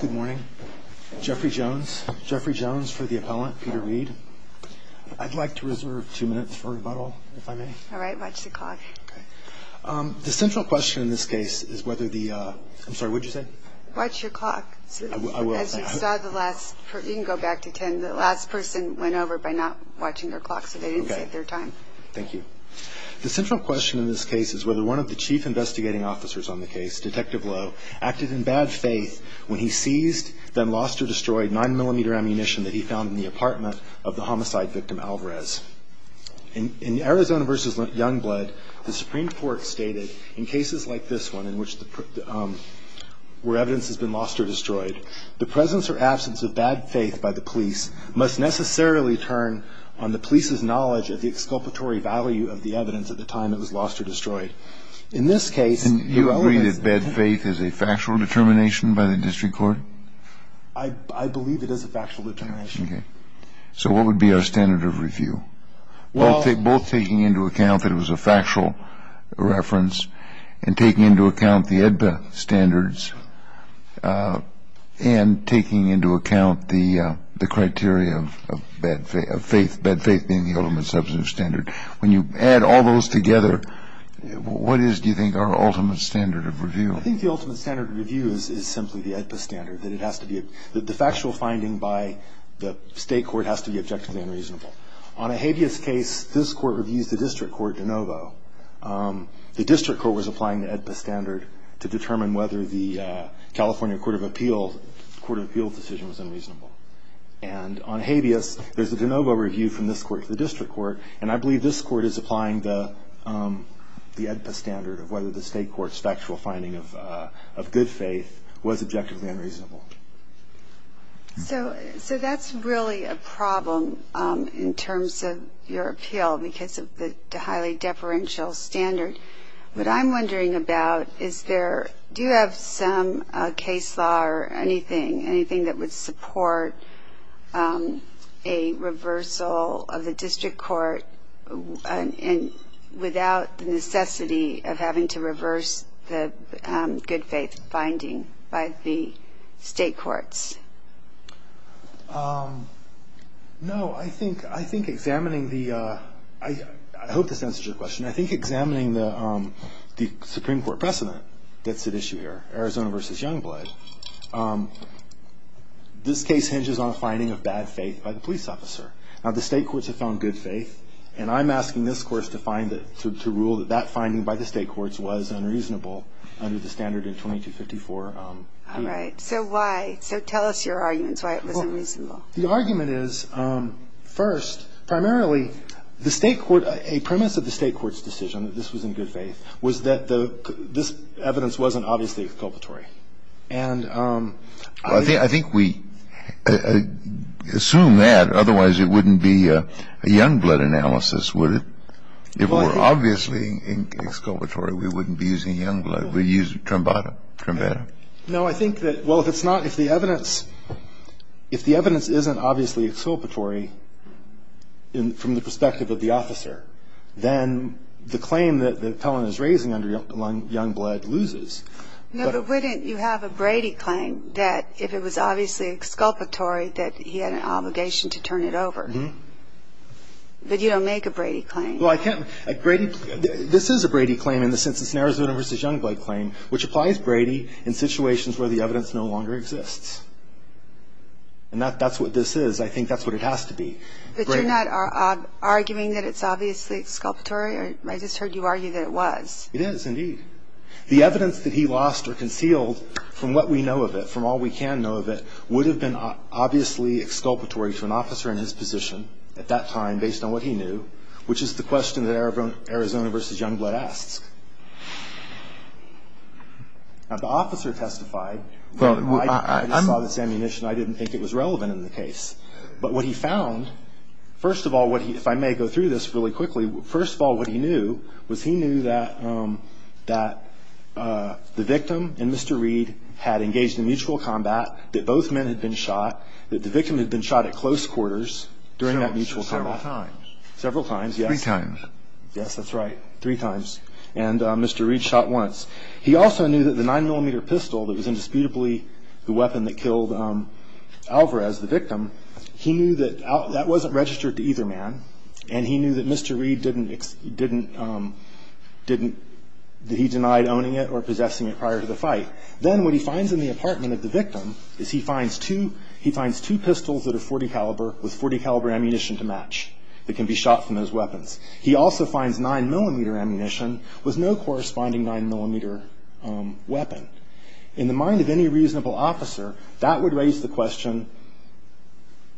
Good morning. Jeffrey Jones. Jeffrey Jones for the appellant, Peter Reed. I'd like to reserve two minutes for rebuttal, if I may. All right. Watch the clock. The central question in this case is whether the – I'm sorry, what did you say? Watch your clock. I will. As you saw the last – you can go back to 10. The last person went over by not watching her clock, so they didn't save their time. Thank you. The central question in this case is whether one of the chief investigating officers on the case, Detective Lowe, acted in bad faith when he seized, then lost or destroyed, 9mm ammunition that he found in the apartment of the homicide victim, Alvarez. In Arizona v. Youngblood, the Supreme Court stated, in cases like this one, where evidence has been lost or destroyed, the presence or absence of bad faith by the police must necessarily turn on the police's knowledge of the exculpatory value of the evidence at the time it was lost or destroyed. And you agree that bad faith is a factual determination by the district court? I believe it is a factual determination. Okay. So what would be our standard of review? Both taking into account that it was a factual reference and taking into account the EDPA standards and taking into account the criteria of bad faith, bad faith being the ultimate substantive standard. When you add all those together, what is, do you think, our ultimate standard of review? I think the ultimate standard of review is simply the EDPA standard. The factual finding by the state court has to be objectively unreasonable. On a habeas case, this court reviews the district court de novo. The district court was applying the EDPA standard to determine whether the California Court of Appeals decision was unreasonable. And on habeas, there's a de novo review from this court to the district court. And I believe this court is applying the EDPA standard of whether the state court's factual finding of good faith was objectively unreasonable. So that's really a problem in terms of your appeal because of the highly deferential standard. What I'm wondering about is there, do you have some case law or anything, anything that would support a reversal of the district court without the necessity of having to reverse the good faith finding by the state courts? No. I think examining the, I hope this answers your question. I think examining the Supreme Court precedent that's at issue here, Arizona v. Youngblood, this case hinges on a finding of bad faith by the police officer. Now, the state courts have found good faith. And I'm asking this court to rule that that finding by the state courts was unreasonable under the standard in 2254. All right. So why? So tell us your arguments why it was unreasonable. Well, the argument is, first, primarily, the state court, a premise of the state court's decision, that this was in good faith, was that this evidence wasn't obviously exculpatory. And I think we assume that. Otherwise, it wouldn't be a Youngblood analysis, would it? If it were obviously exculpatory, we wouldn't be using Youngblood. We'd use Trambata. Trambata? No, I think that, well, if it's not, if the evidence, if the evidence isn't obviously exculpatory from the perspective of the officer, then the claim that Pellon is raising under Youngblood loses. No, but wouldn't you have a Brady claim that if it was obviously exculpatory that he had an obligation to turn it over? Mm-hmm. But you don't make a Brady claim. Well, I can't, Brady, this is a Brady claim in the sense it's an Arizona v. Youngblood claim which applies Brady in situations where the evidence no longer exists. And that's what this is. I think that's what it has to be. But you're not arguing that it's obviously exculpatory? I just heard you argue that it was. It is, indeed. The evidence that he lost or concealed from what we know of it, from all we can know of it, would have been obviously exculpatory to an officer in his position at that time based on what he knew, which is the question that Arizona v. Youngblood asks. Now, the officer testified. I saw this ammunition. I didn't think it was relevant in the case. But what he found, first of all, if I may go through this really quickly, first of all, what he knew was he knew that the victim and Mr. Reed had engaged in mutual combat, that both men had been shot, that the victim had been shot at close quarters during that mutual combat. Several times. Several times, yes. Three times. Yes, that's right. Three times. And Mr. Reed shot once. He also knew that the 9mm pistol that was indisputably the weapon that killed Alvarez, the victim, he knew that that wasn't registered to either man, and he knew that Mr. Reed didn't he denied owning it or possessing it prior to the fight. Then what he finds in the apartment of the victim is he finds two pistols that are .40 caliber with .40 caliber ammunition to match that can be shot from those weapons. He also finds 9mm ammunition with no corresponding 9mm weapon. In the mind of any reasonable officer, that would raise the question,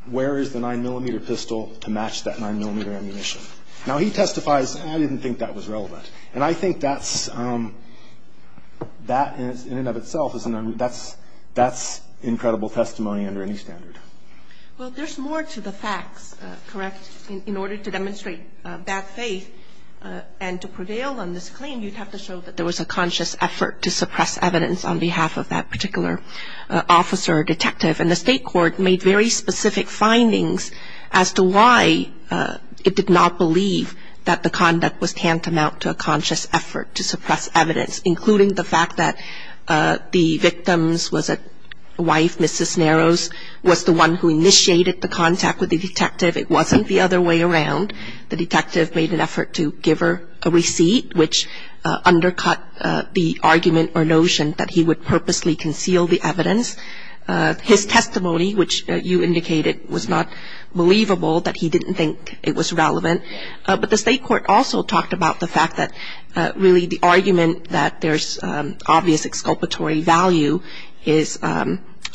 where is the 9mm pistol to match that 9mm ammunition? Now, he testifies, I didn't think that was relevant. And I think that's, in and of itself, that's incredible testimony under any standard. Well, there's more to the facts, correct? In order to demonstrate bad faith and to prevail on this claim, you'd have to show that there was a conscious effort to suppress evidence on behalf of that particular officer or detective, and the state court made very specific findings as to why it did not believe that the conduct was tantamount to a conscious effort to suppress evidence, including the fact that the victim's wife, Mrs. Narrows, was the one who initiated the contact with the detective. It wasn't the other way around. The detective made an effort to give her a receipt, which undercut the argument or notion that he would purposely conceal the evidence. His testimony, which you indicated was not believable, that he didn't think it was relevant. But the state court also talked about the fact that, really, the argument that there's obvious exculpatory value is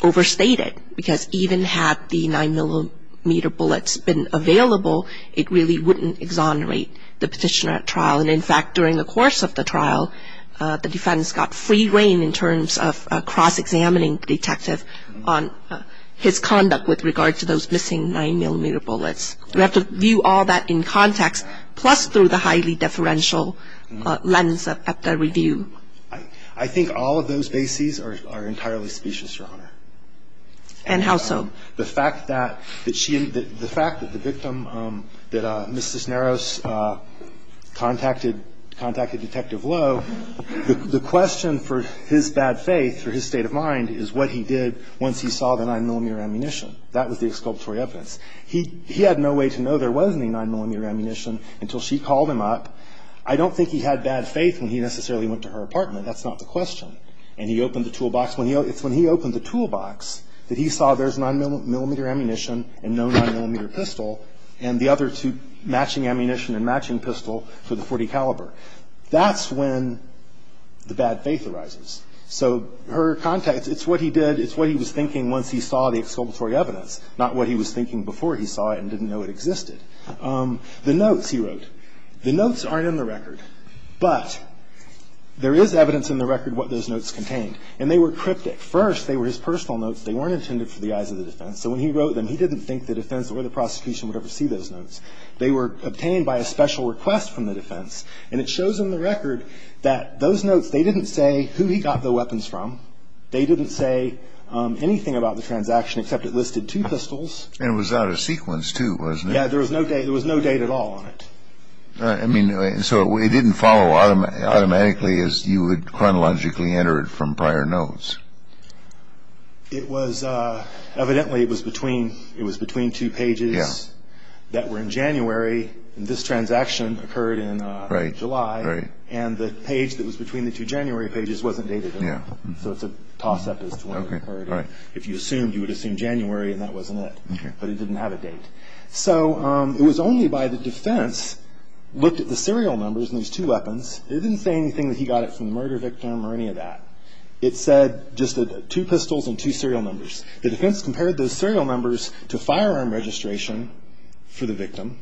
overstated, because even had the 9mm bullets been available, it really wouldn't exonerate the petitioner at trial. And, in fact, during the course of the trial, the defense got free reign in terms of cross-examining the detective on his conduct with regard to those missing 9mm bullets. You have to view all that in context, plus through the highly deferential lens of the review. I think all of those bases are entirely specious, Your Honor. And how so? The fact that the victim, that Mrs. Narrows contacted Detective Lowe, the question for his bad faith, for his state of mind, is what he did once he saw the 9mm ammunition. That was the exculpatory evidence. He had no way to know there was any 9mm ammunition until she called him up. I don't think he had bad faith when he necessarily went to her apartment. That's not the question. And he opened the toolbox. It's when he opened the toolbox that he saw there's 9mm ammunition and no 9mm pistol, and the other two matching ammunition and matching pistol for the .40 caliber. That's when the bad faith arises. So her context, it's what he did, it's what he was thinking once he saw the exculpatory evidence, not what he was thinking before he saw it and didn't know it existed. The notes he wrote. The notes aren't in the record. But there is evidence in the record what those notes contained. And they were cryptic. First, they were his personal notes. They weren't intended for the eyes of the defense. So when he wrote them, he didn't think the defense or the prosecution would ever see those notes. They were obtained by a special request from the defense. And it shows in the record that those notes, they didn't say who he got the weapons from. They didn't say anything about the transaction except it listed two pistols. And it was out of sequence, too, wasn't it? Yeah. There was no date at all on it. I mean, so it didn't follow automatically as you would chronologically enter it from prior notes. It was evidently it was between two pages that were in January, and this transaction occurred in July. Right. So it's a toss-up as to when it occurred. If you assumed, you would assume January, and that wasn't it. Okay. But it didn't have a date. So it was only by the defense looked at the serial numbers in these two weapons. It didn't say anything that he got it from the murder victim or any of that. It said just two pistols and two serial numbers. The defense compared those serial numbers to firearm registration for the victim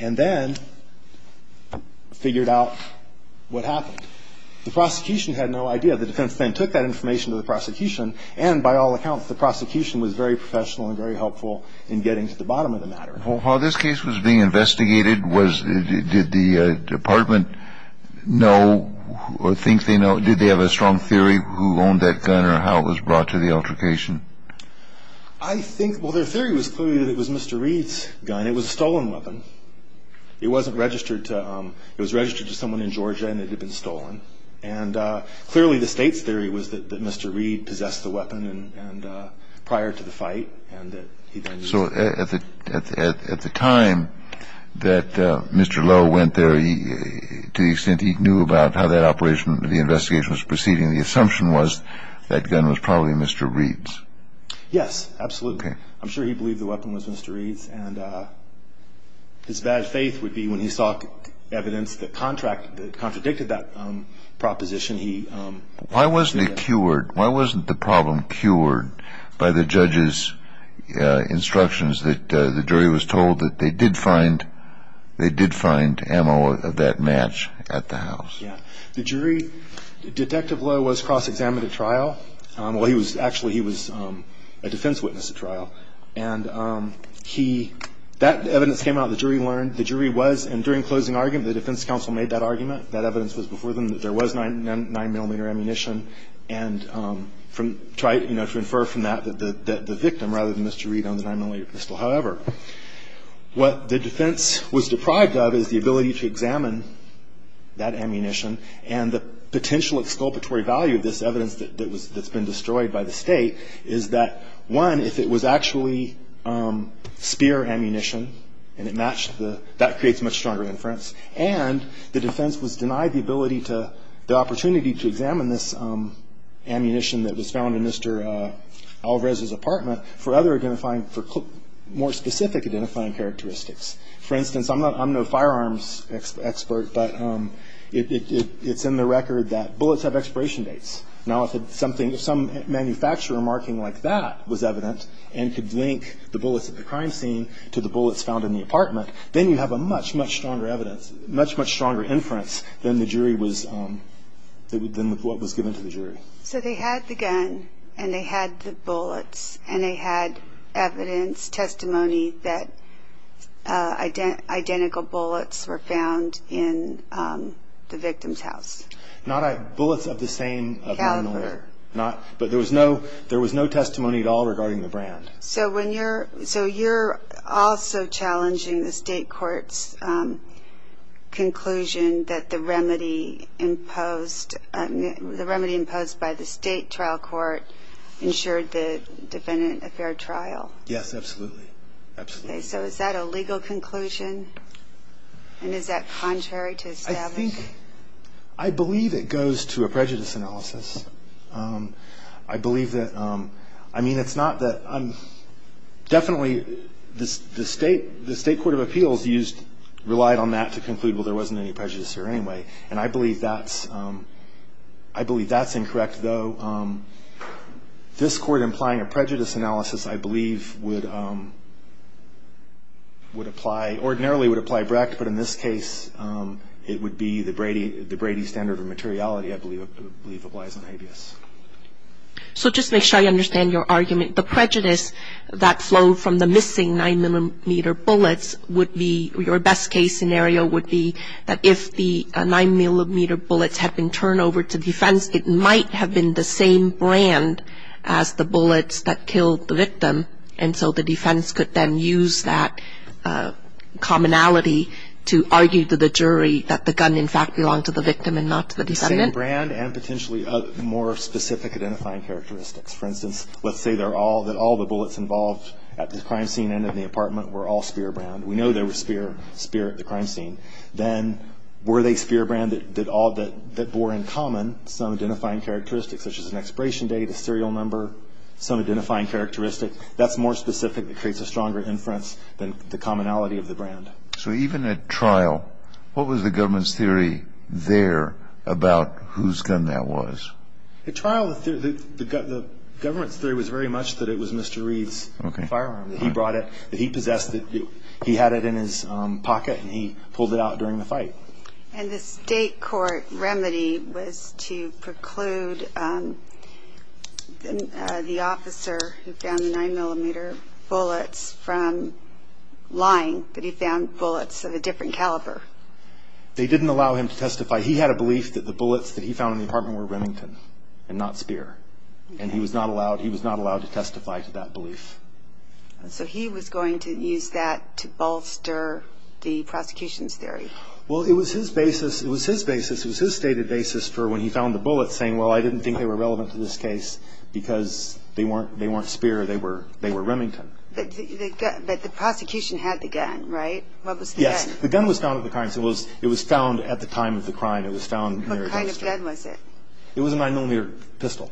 and then figured out what happened. The prosecution had no idea. The defense then took that information to the prosecution, and by all accounts the prosecution was very professional and very helpful in getting to the bottom of the matter. While this case was being investigated, did the department know or think they know, did they have a strong theory who owned that gun or how it was brought to the altercation? I think, well, their theory was clearly that it was Mr. Reed's gun. It was a stolen weapon. It wasn't registered to him. It was registered to someone in Georgia, and it had been stolen. And clearly the state's theory was that Mr. Reed possessed the weapon prior to the fight. So at the time that Mr. Lowe went there, to the extent he knew about how that operation, the investigation was proceeding, the assumption was that gun was probably Mr. Reed's. Yes, absolutely. I'm sure he believed the weapon was Mr. Reed's. His bad faith would be when he saw evidence that contradicted that proposition. Why wasn't it cured? Why wasn't the problem cured by the judge's instructions that the jury was told that they did find ammo of that match at the house? The jury, Detective Lowe was cross-examined at trial. Actually, he was a defense witness at trial. And that evidence came out. The jury learned. The jury was, and during closing argument, the defense counsel made that argument. That evidence was before them that there was 9mm ammunition and tried to infer from that the victim rather than Mr. Reed on the 9mm pistol. However, what the defense was deprived of is the ability to examine that ammunition, and the potential exculpatory value of this evidence that's been destroyed by the state is that, one, if it was actually spear ammunition and it matched the, that creates much stronger inference. And the defense was denied the ability to, the opportunity to examine this ammunition that was found in Mr. Alvarez's apartment for other identifying, for more specific identifying characteristics. For instance, I'm no firearms expert, but it's in the record that bullets have expiration dates. Now, if something, some manufacturer marking like that was evident and could link the bullets at the crime scene to the bullets found in the apartment, then you have a much, much stronger evidence, much, much stronger inference than the jury was, than what was given to the jury. So they had the gun and they had the bullets and they had evidence, testimony that identical bullets were found in the victim's house. Bullets of the same caliber. But there was no, there was no testimony at all regarding the brand. So when you're, so you're also challenging the state court's conclusion that the remedy imposed, the remedy imposed by the state trial court ensured the defendant a fair trial. Yes, absolutely. Absolutely. So is that a legal conclusion? And is that contrary to establishing? I think, I believe it goes to a prejudice analysis. I believe that, I mean, it's not that I'm, definitely the state, the state court of appeals used, relied on that to conclude, well, there wasn't any prejudice here anyway. And I believe that's, I believe that's incorrect, though. This court implying a prejudice analysis, I believe, would apply, ordinarily would apply Brecht, but in this case, it would be the Brady, the Brady standard of materiality, I believe, applies on habeas. So just to make sure I understand your argument, the prejudice that flowed from the missing 9-millimeter bullets would be, your best case scenario would be that if the 9-millimeter bullets had been turned over to defense, it might have been the same brand as the bullets that killed the victim. And so the defense could then use that commonality to argue to the jury that the gun, in fact, belonged to the victim and not to the decedent. The same brand and potentially more specific identifying characteristics. For instance, let's say they're all, that all the bullets involved at the crime scene and in the apartment were all spear brand. We know there was spear at the crime scene. Then were they spear brand that did all, that bore in common some identifying characteristics, such as an expiration date, a serial number, some identifying characteristic, that's more specific and creates a stronger inference than the commonality of the brand. So even at trial, what was the government's theory there about whose gun that was? At trial, the government's theory was very much that it was Mr. Reed's firearm, that he brought it, that he possessed it. He had it in his pocket and he pulled it out during the fight. And the state court remedy was to preclude the officer who found the 9-millimeter bullets from lying that he found bullets of a different caliber. They didn't allow him to testify. He had a belief that the bullets that he found in the apartment were Remington and not spear. And he was not allowed to testify to that belief. So he was going to use that to bolster the prosecution's theory. Well, it was his basis. It was his basis. It was his stated basis for when he found the bullets, saying, well, I didn't think they were relevant to this case because they weren't spear. They were Remington. But the prosecution had the gun, right? What was the gun? Yes. The gun was found at the crime scene. It was found at the time of the crime. It was found near the crime scene. What kind of gun was it? It was a 9-millimeter pistol.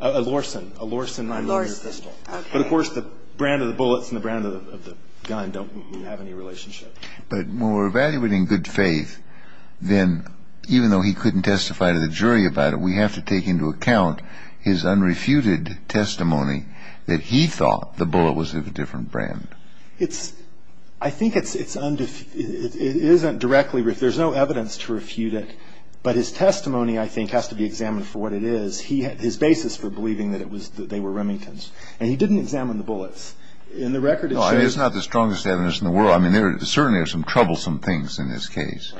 A Lorsen. A Lorsen 9-millimeter pistol. A Lorsen. Okay. But, of course, the brand of the bullets and the brand of the gun don't have any relationship. But when we're evaluating good faith, then even though he couldn't testify to the jury about it, we have to take into account his unrefuted testimony that he thought the bullet was of a different brand. I think it isn't directly refuted. There's no evidence to refute it. But his testimony, I think, has to be examined for what it is. His basis for believing that they were Remington's. And he didn't examine the bullets. In the record, it shows you. No, it is not the strongest evidence in the world. I mean, there certainly are some troublesome things in this case.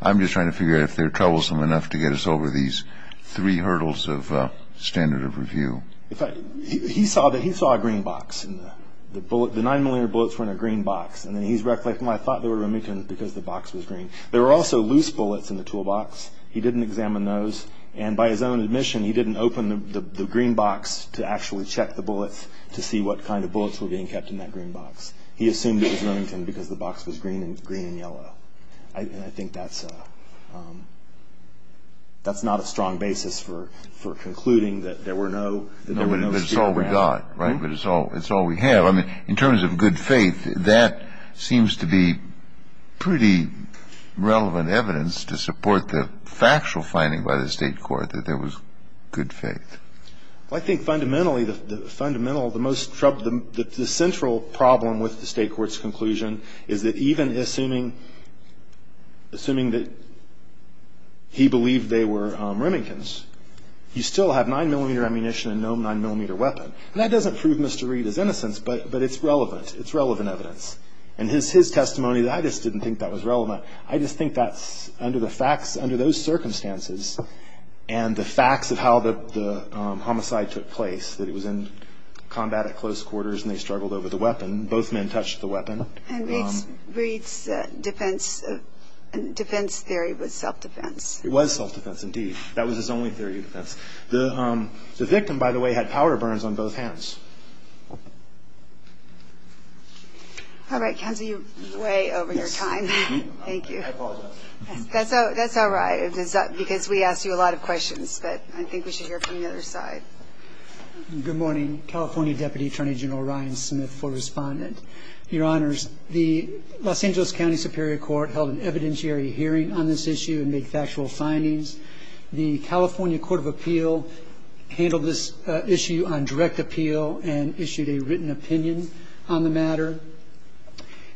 I'm just trying to figure out if they're troublesome enough to get us over these three hurdles of standard of review. He saw a green box. The 9-millimeter bullets were in a green box. And then he's recollecting, well, I thought they were Remington's because the box was green. There were also loose bullets in the toolbox. He didn't examine those. And by his own admission, he didn't open the green box to actually check the bullets to see what kind of bullets were being kept in that green box. He assumed it was Remington's because the box was green and yellow. And I think that's not a strong basis for concluding that there were no skid marks. No, but it's all we got. Right? But it's all we have. I mean, in terms of good faith, that seems to be pretty relevant evidence to support the factual finding by the state court that there was good faith. Well, I think fundamentally, the fundamental, the most troubling, the central problem with the state court's conclusion is that even assuming that he believed they were Remington's, you still have 9-millimeter ammunition and no 9-millimeter weapon. And that doesn't prove Mr. Reed's innocence, but it's relevant. It's relevant evidence. And his testimony, I just didn't think that was relevant. I just think that's under those circumstances and the facts of how the homicide took place, that it was in combat at close quarters and they struggled over the weapon. Both men touched the weapon. And Reed's defense theory was self-defense. It was self-defense, indeed. That was his only theory of defense. The victim, by the way, had powder burns on both hands. All right. Counsel, you're way over your time. Thank you. I apologize. That's all right, because we asked you a lot of questions. But I think we should hear from the other side. Good morning. California Deputy Attorney General Ryan Smith, full respondent. Your Honors, the Los Angeles County Superior Court held an evidentiary hearing on this issue and made factual findings. The California Court of Appeal handled this issue on direct appeal and issued a written opinion on the matter.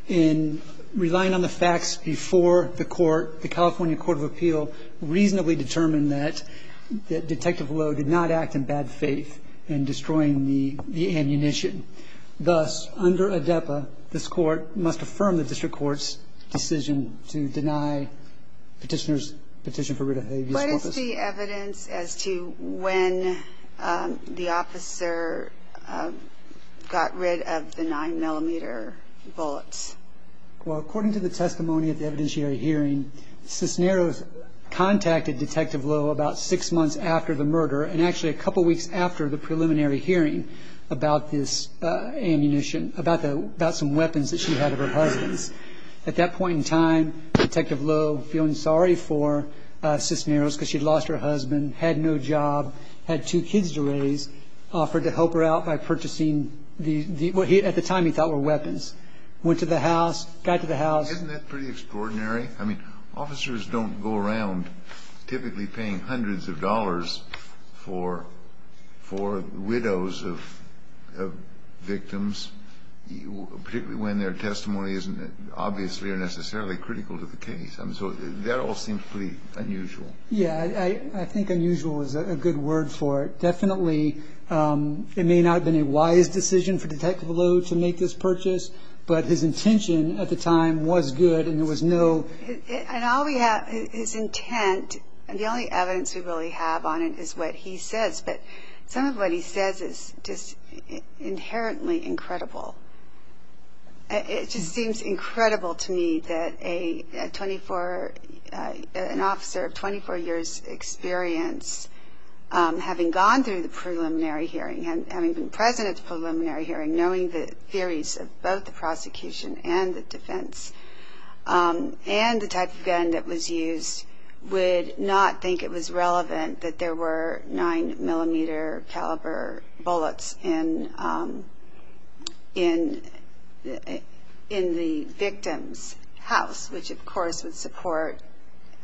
In relying on the facts before the court, the California Court of Appeal reasonably determined that Detective Lowe did not act in bad faith in destroying the ammunition. Thus, under ADEPA, this court must affirm the district court's decision to deny petitioners' petition for rid of Habeas Corpus. What is the evidence as to when the officer got rid of the 9-millimeter bullets? Well, according to the testimony at the evidentiary hearing, Cisneros contacted Detective Lowe about six months after the murder and actually a couple weeks after the preliminary hearing about this ammunition, about some weapons that she had of her husband's. At that point in time, Detective Lowe, feeling sorry for Cisneros because she had lost her husband, had no job, had two kids to raise, offered to help her out by purchasing what at the time he thought were weapons. Went to the house, got to the house. Isn't that pretty extraordinary? I mean, officers don't go around typically paying hundreds of dollars for widows of victims, particularly when their testimony isn't obviously or necessarily critical to the case. I mean, so that all seems pretty unusual. Yeah, I think unusual is a good word for it. Definitely it may not have been a wise decision for Detective Lowe to make this purchase, but his intention at the time was good and there was no ---- And all we have, his intent, the only evidence we really have on it is what he says, but some of what he says is just inherently incredible. It just seems incredible to me that an officer of 24 years' experience, having gone through the preliminary hearing, having been present at the preliminary hearing, knowing the theories of both the prosecution and the defense, and the type of gun that was used, would not think it was relevant that there were 9mm caliber bullets in the victim's house, which of course would support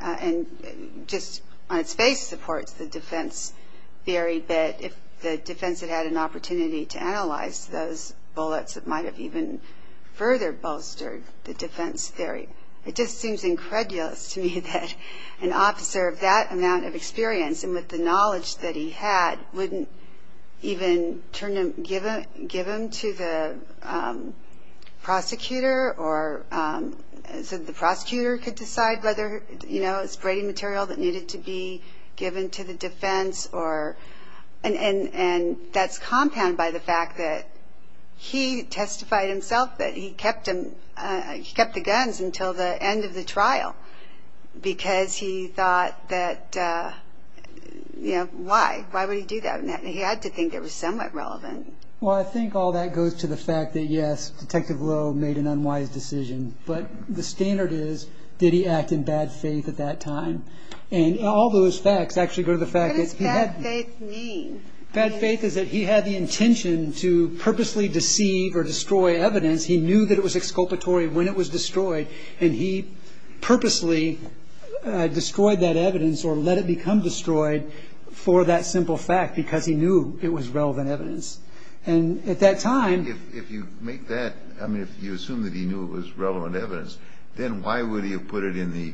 and just on its face supports the defense theory, but if the defense had had an opportunity to analyze those bullets, it might have even further bolstered the defense theory. It just seems incredulous to me that an officer of that amount of experience and with the knowledge that he had wouldn't even give them to the prosecutor so the prosecutor could decide whether it was braiding material that needed to be given to the defense. And that's compounded by the fact that he testified himself that he kept the guns until the end of the trial because he thought that, you know, why? Why would he do that? He had to think it was somewhat relevant. Well, I think all that goes to the fact that yes, Detective Lowe made an unwise decision, but the standard is, did he act in bad faith at that time? And all those facts actually go to the fact that he had... What does bad faith mean? Bad faith is that he had the intention to purposely deceive or destroy evidence. He knew that it was exculpatory when it was destroyed, and he purposely destroyed that evidence or let it become destroyed for that simple fact because he knew it was relevant evidence. And at that time... If you make that, I mean, if you assume that he knew it was relevant evidence, then why would he have put it in the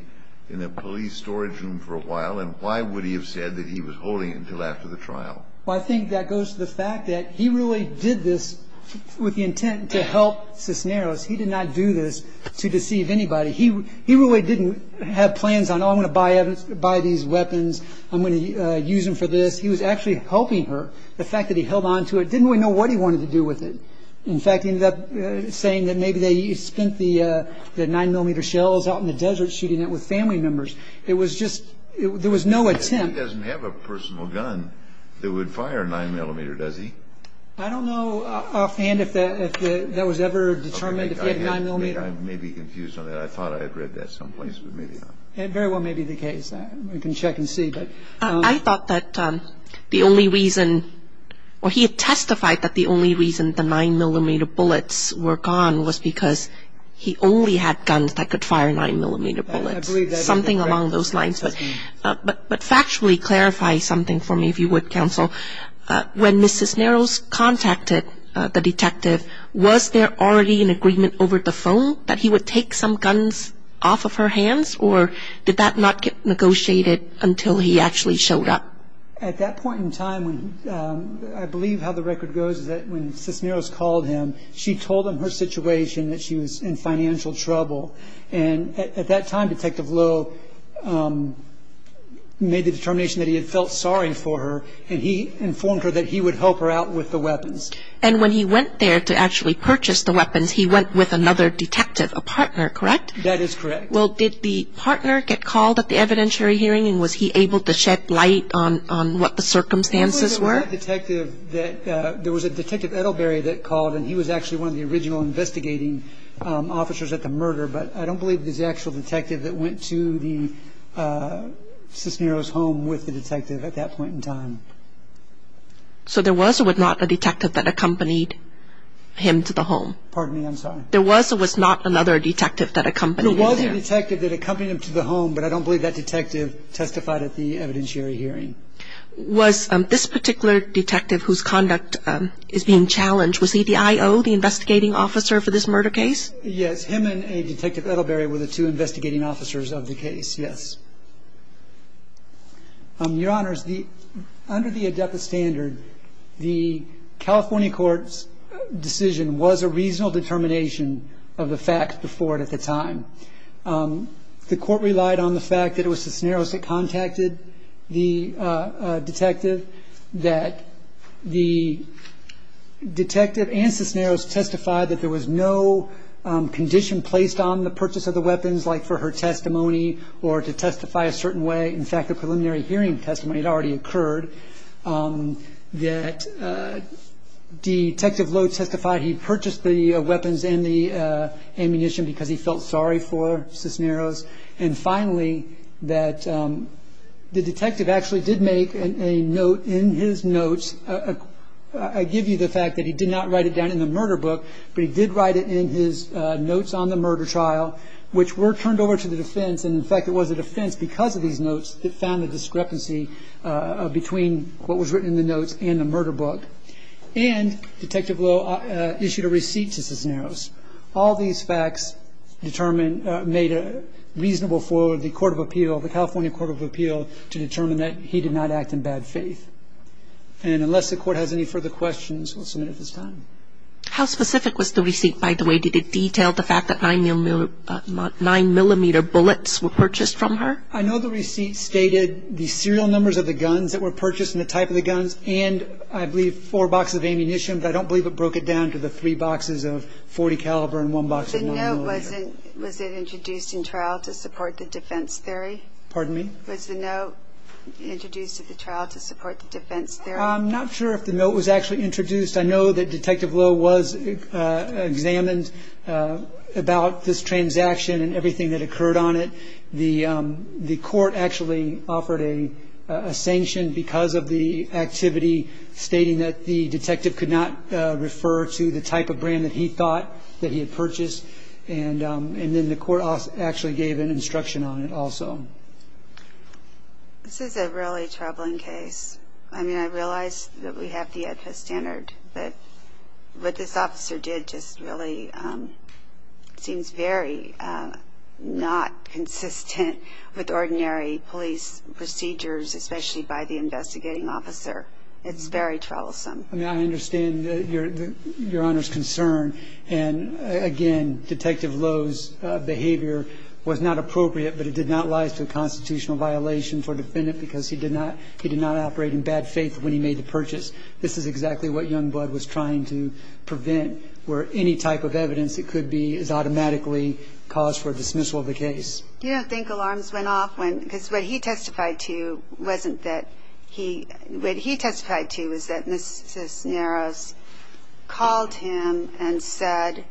police storage room for a while? And why would he have said that he was holding it until after the trial? Well, I think that goes to the fact that he really did this with the intent to help Cisneros. He did not do this to deceive anybody. He really didn't have plans on, oh, I'm going to buy these weapons. I'm going to use them for this. He was actually helping her. The fact that he held on to it didn't really know what he wanted to do with it. In fact, he ended up saying that maybe they spent the 9-millimeter shells out in the desert shooting it with family members. It was just, there was no attempt. He doesn't have a personal gun that would fire a 9-millimeter, does he? I don't know offhand if that was ever determined, if he had a 9-millimeter. I may be confused on that. I thought I had read that someplace, but maybe not. It very well may be the case. We can check and see. I thought that the only reason, or he had testified that the only reason the 9-millimeter bullets were gone was because he only had guns that could fire 9-millimeter bullets, something along those lines. But factually clarify something for me, if you would, Counsel. When Mrs. Cisneros contacted the detective, was there already an agreement over the phone that he would take some guns off of her hands, or did that not get negotiated until he actually showed up? At that point in time, I believe how the record goes is that when Cisneros called him, she told him her situation, that she was in financial trouble. And at that time, Detective Lowe made the determination that he had felt sorry for her, and he informed her that he would help her out with the weapons. And when he went there to actually purchase the weapons, he went with another detective, a partner, correct? That is correct. Well, did the partner get called at the evidentiary hearing, and was he able to shed light on what the circumstances were? There was a detective, there was a Detective Edelberry that called, and he was actually one of the original investigating officers at the murder, but I don't believe it was the actual detective that went to the Cisneros' home with the detective at that point in time. So there was or was not a detective that accompanied him to the home? Pardon me, I'm sorry. There was or was not another detective that accompanied him there? There was a detective that accompanied him to the home, but I don't believe that detective testified at the evidentiary hearing. Was this particular detective whose conduct is being challenged, was he the I.O., the investigating officer for this murder case? Yes, him and a Detective Edelberry were the two investigating officers of the case, yes. Your Honors, under the ADEPA standard, the California court's decision was a reasonable determination of the facts before it at the time. The court relied on the fact that it was Cisneros that contacted the detective, that the detective and Cisneros testified that there was no condition placed on the purchase of the weapons, like for her testimony or to testify a certain way. In fact, a preliminary hearing testimony had already occurred, that Detective Lowe testified he purchased the weapons and the ammunition because he felt sorry for Cisneros, and finally that the detective actually did make a note in his notes, I give you the fact that he did not write it down in the murder book, but he did write it in his notes on the murder trial, which were turned over to the defense, and in fact it was the defense, because of these notes, that found the discrepancy between what was written in the notes and the murder book. And Detective Lowe issued a receipt to Cisneros. All these facts determined, made it reasonable for the court of appeal, the California court of appeal, to determine that he did not act in bad faith. And unless the court has any further questions, we'll submit it at this time. How specific was the receipt, by the way? Did it detail the fact that 9mm bullets were purchased from her? I know the receipt stated the serial numbers of the guns that were purchased and the type of the guns, and I believe four boxes of ammunition, but I don't believe it broke it down to the three boxes of .40 caliber and one box of 9mm. The note, was it introduced in trial to support the defense theory? Pardon me? Was the note introduced at the trial to support the defense theory? I'm not sure if the note was actually introduced. I know that Detective Lowe was examined about this transaction and everything that occurred on it. The court actually offered a sanction because of the activity, stating that the detective could not refer to the type of brand that he thought that he had purchased, and then the court actually gave an instruction on it also. This is a really troubling case. I mean, I realize that we have the AEDPA standard, but what this officer did just really seems very not consistent with ordinary police procedures, especially by the investigating officer. It's very troublesome. I mean, I understand Your Honor's concern, and, again, Detective Lowe's behavior was not appropriate, but it did not lie to a constitutional violation for a defendant because he did not operate in bad faith when he made the purchase. This is exactly what Youngblood was trying to prevent, where any type of evidence that could be automatically caused for dismissal of the case. You don't think alarms went off when, because what he testified to wasn't that he, what he testified to was that Mrs. Naros called him and said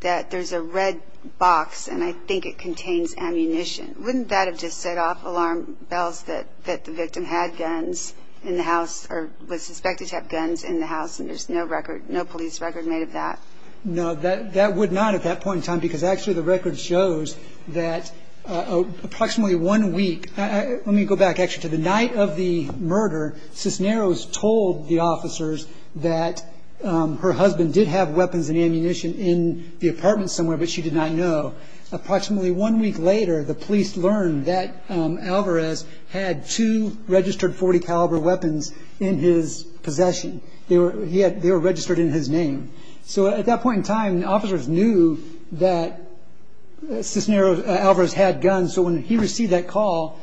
that there's a red box and I think it contains ammunition. Wouldn't that have just set off alarm bells that the victim had guns in the house or was suspected to have guns in the house and there's no record, no police record made of that? No, that would not at that point in time, because actually the record shows that approximately one week, let me go back actually to the night of the murder, Mrs. Naros told the officers that her husband did have weapons and ammunition in the apartment somewhere, but she did not know. Approximately one week later, the police learned that Alvarez had two registered .40 caliber weapons in his possession. They were registered in his name. So at that point in time, the officers knew that Alvarez had guns, so when he received that call,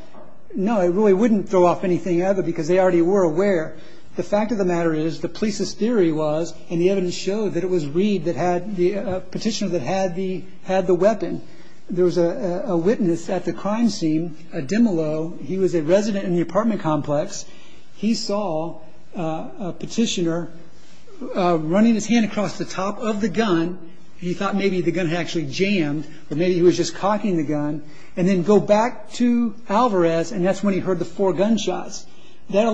no, it really wouldn't throw off anything other because they already were aware. The fact of the matter is the police's theory was, and the evidence showed that it was Reed, the petitioner that had the weapon. There was a witness at the crime scene, a demilow. He was a resident in the apartment complex. He saw a petitioner running his hand across the top of the gun. He thought maybe the gun had actually jammed or maybe he was just cocking the gun and then go back to Alvarez and that's when he heard the four gunshots. That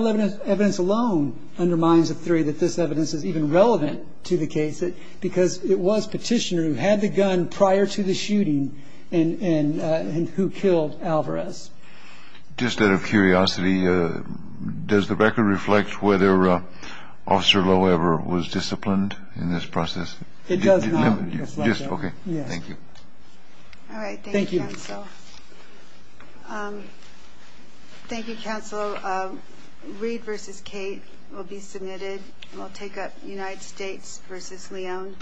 evidence alone undermines the theory that this evidence is even relevant to the case because it was petitioner who had the gun prior to the shooting and who killed Alvarez. Just out of curiosity, does the record reflect whether Officer Lowe ever was disciplined in this process? It does not reflect that. Okay. Thank you. All right. Thank you, counsel. Thank you, counsel. Reed v. Cate will be submitted. We'll take up United States v. Leon.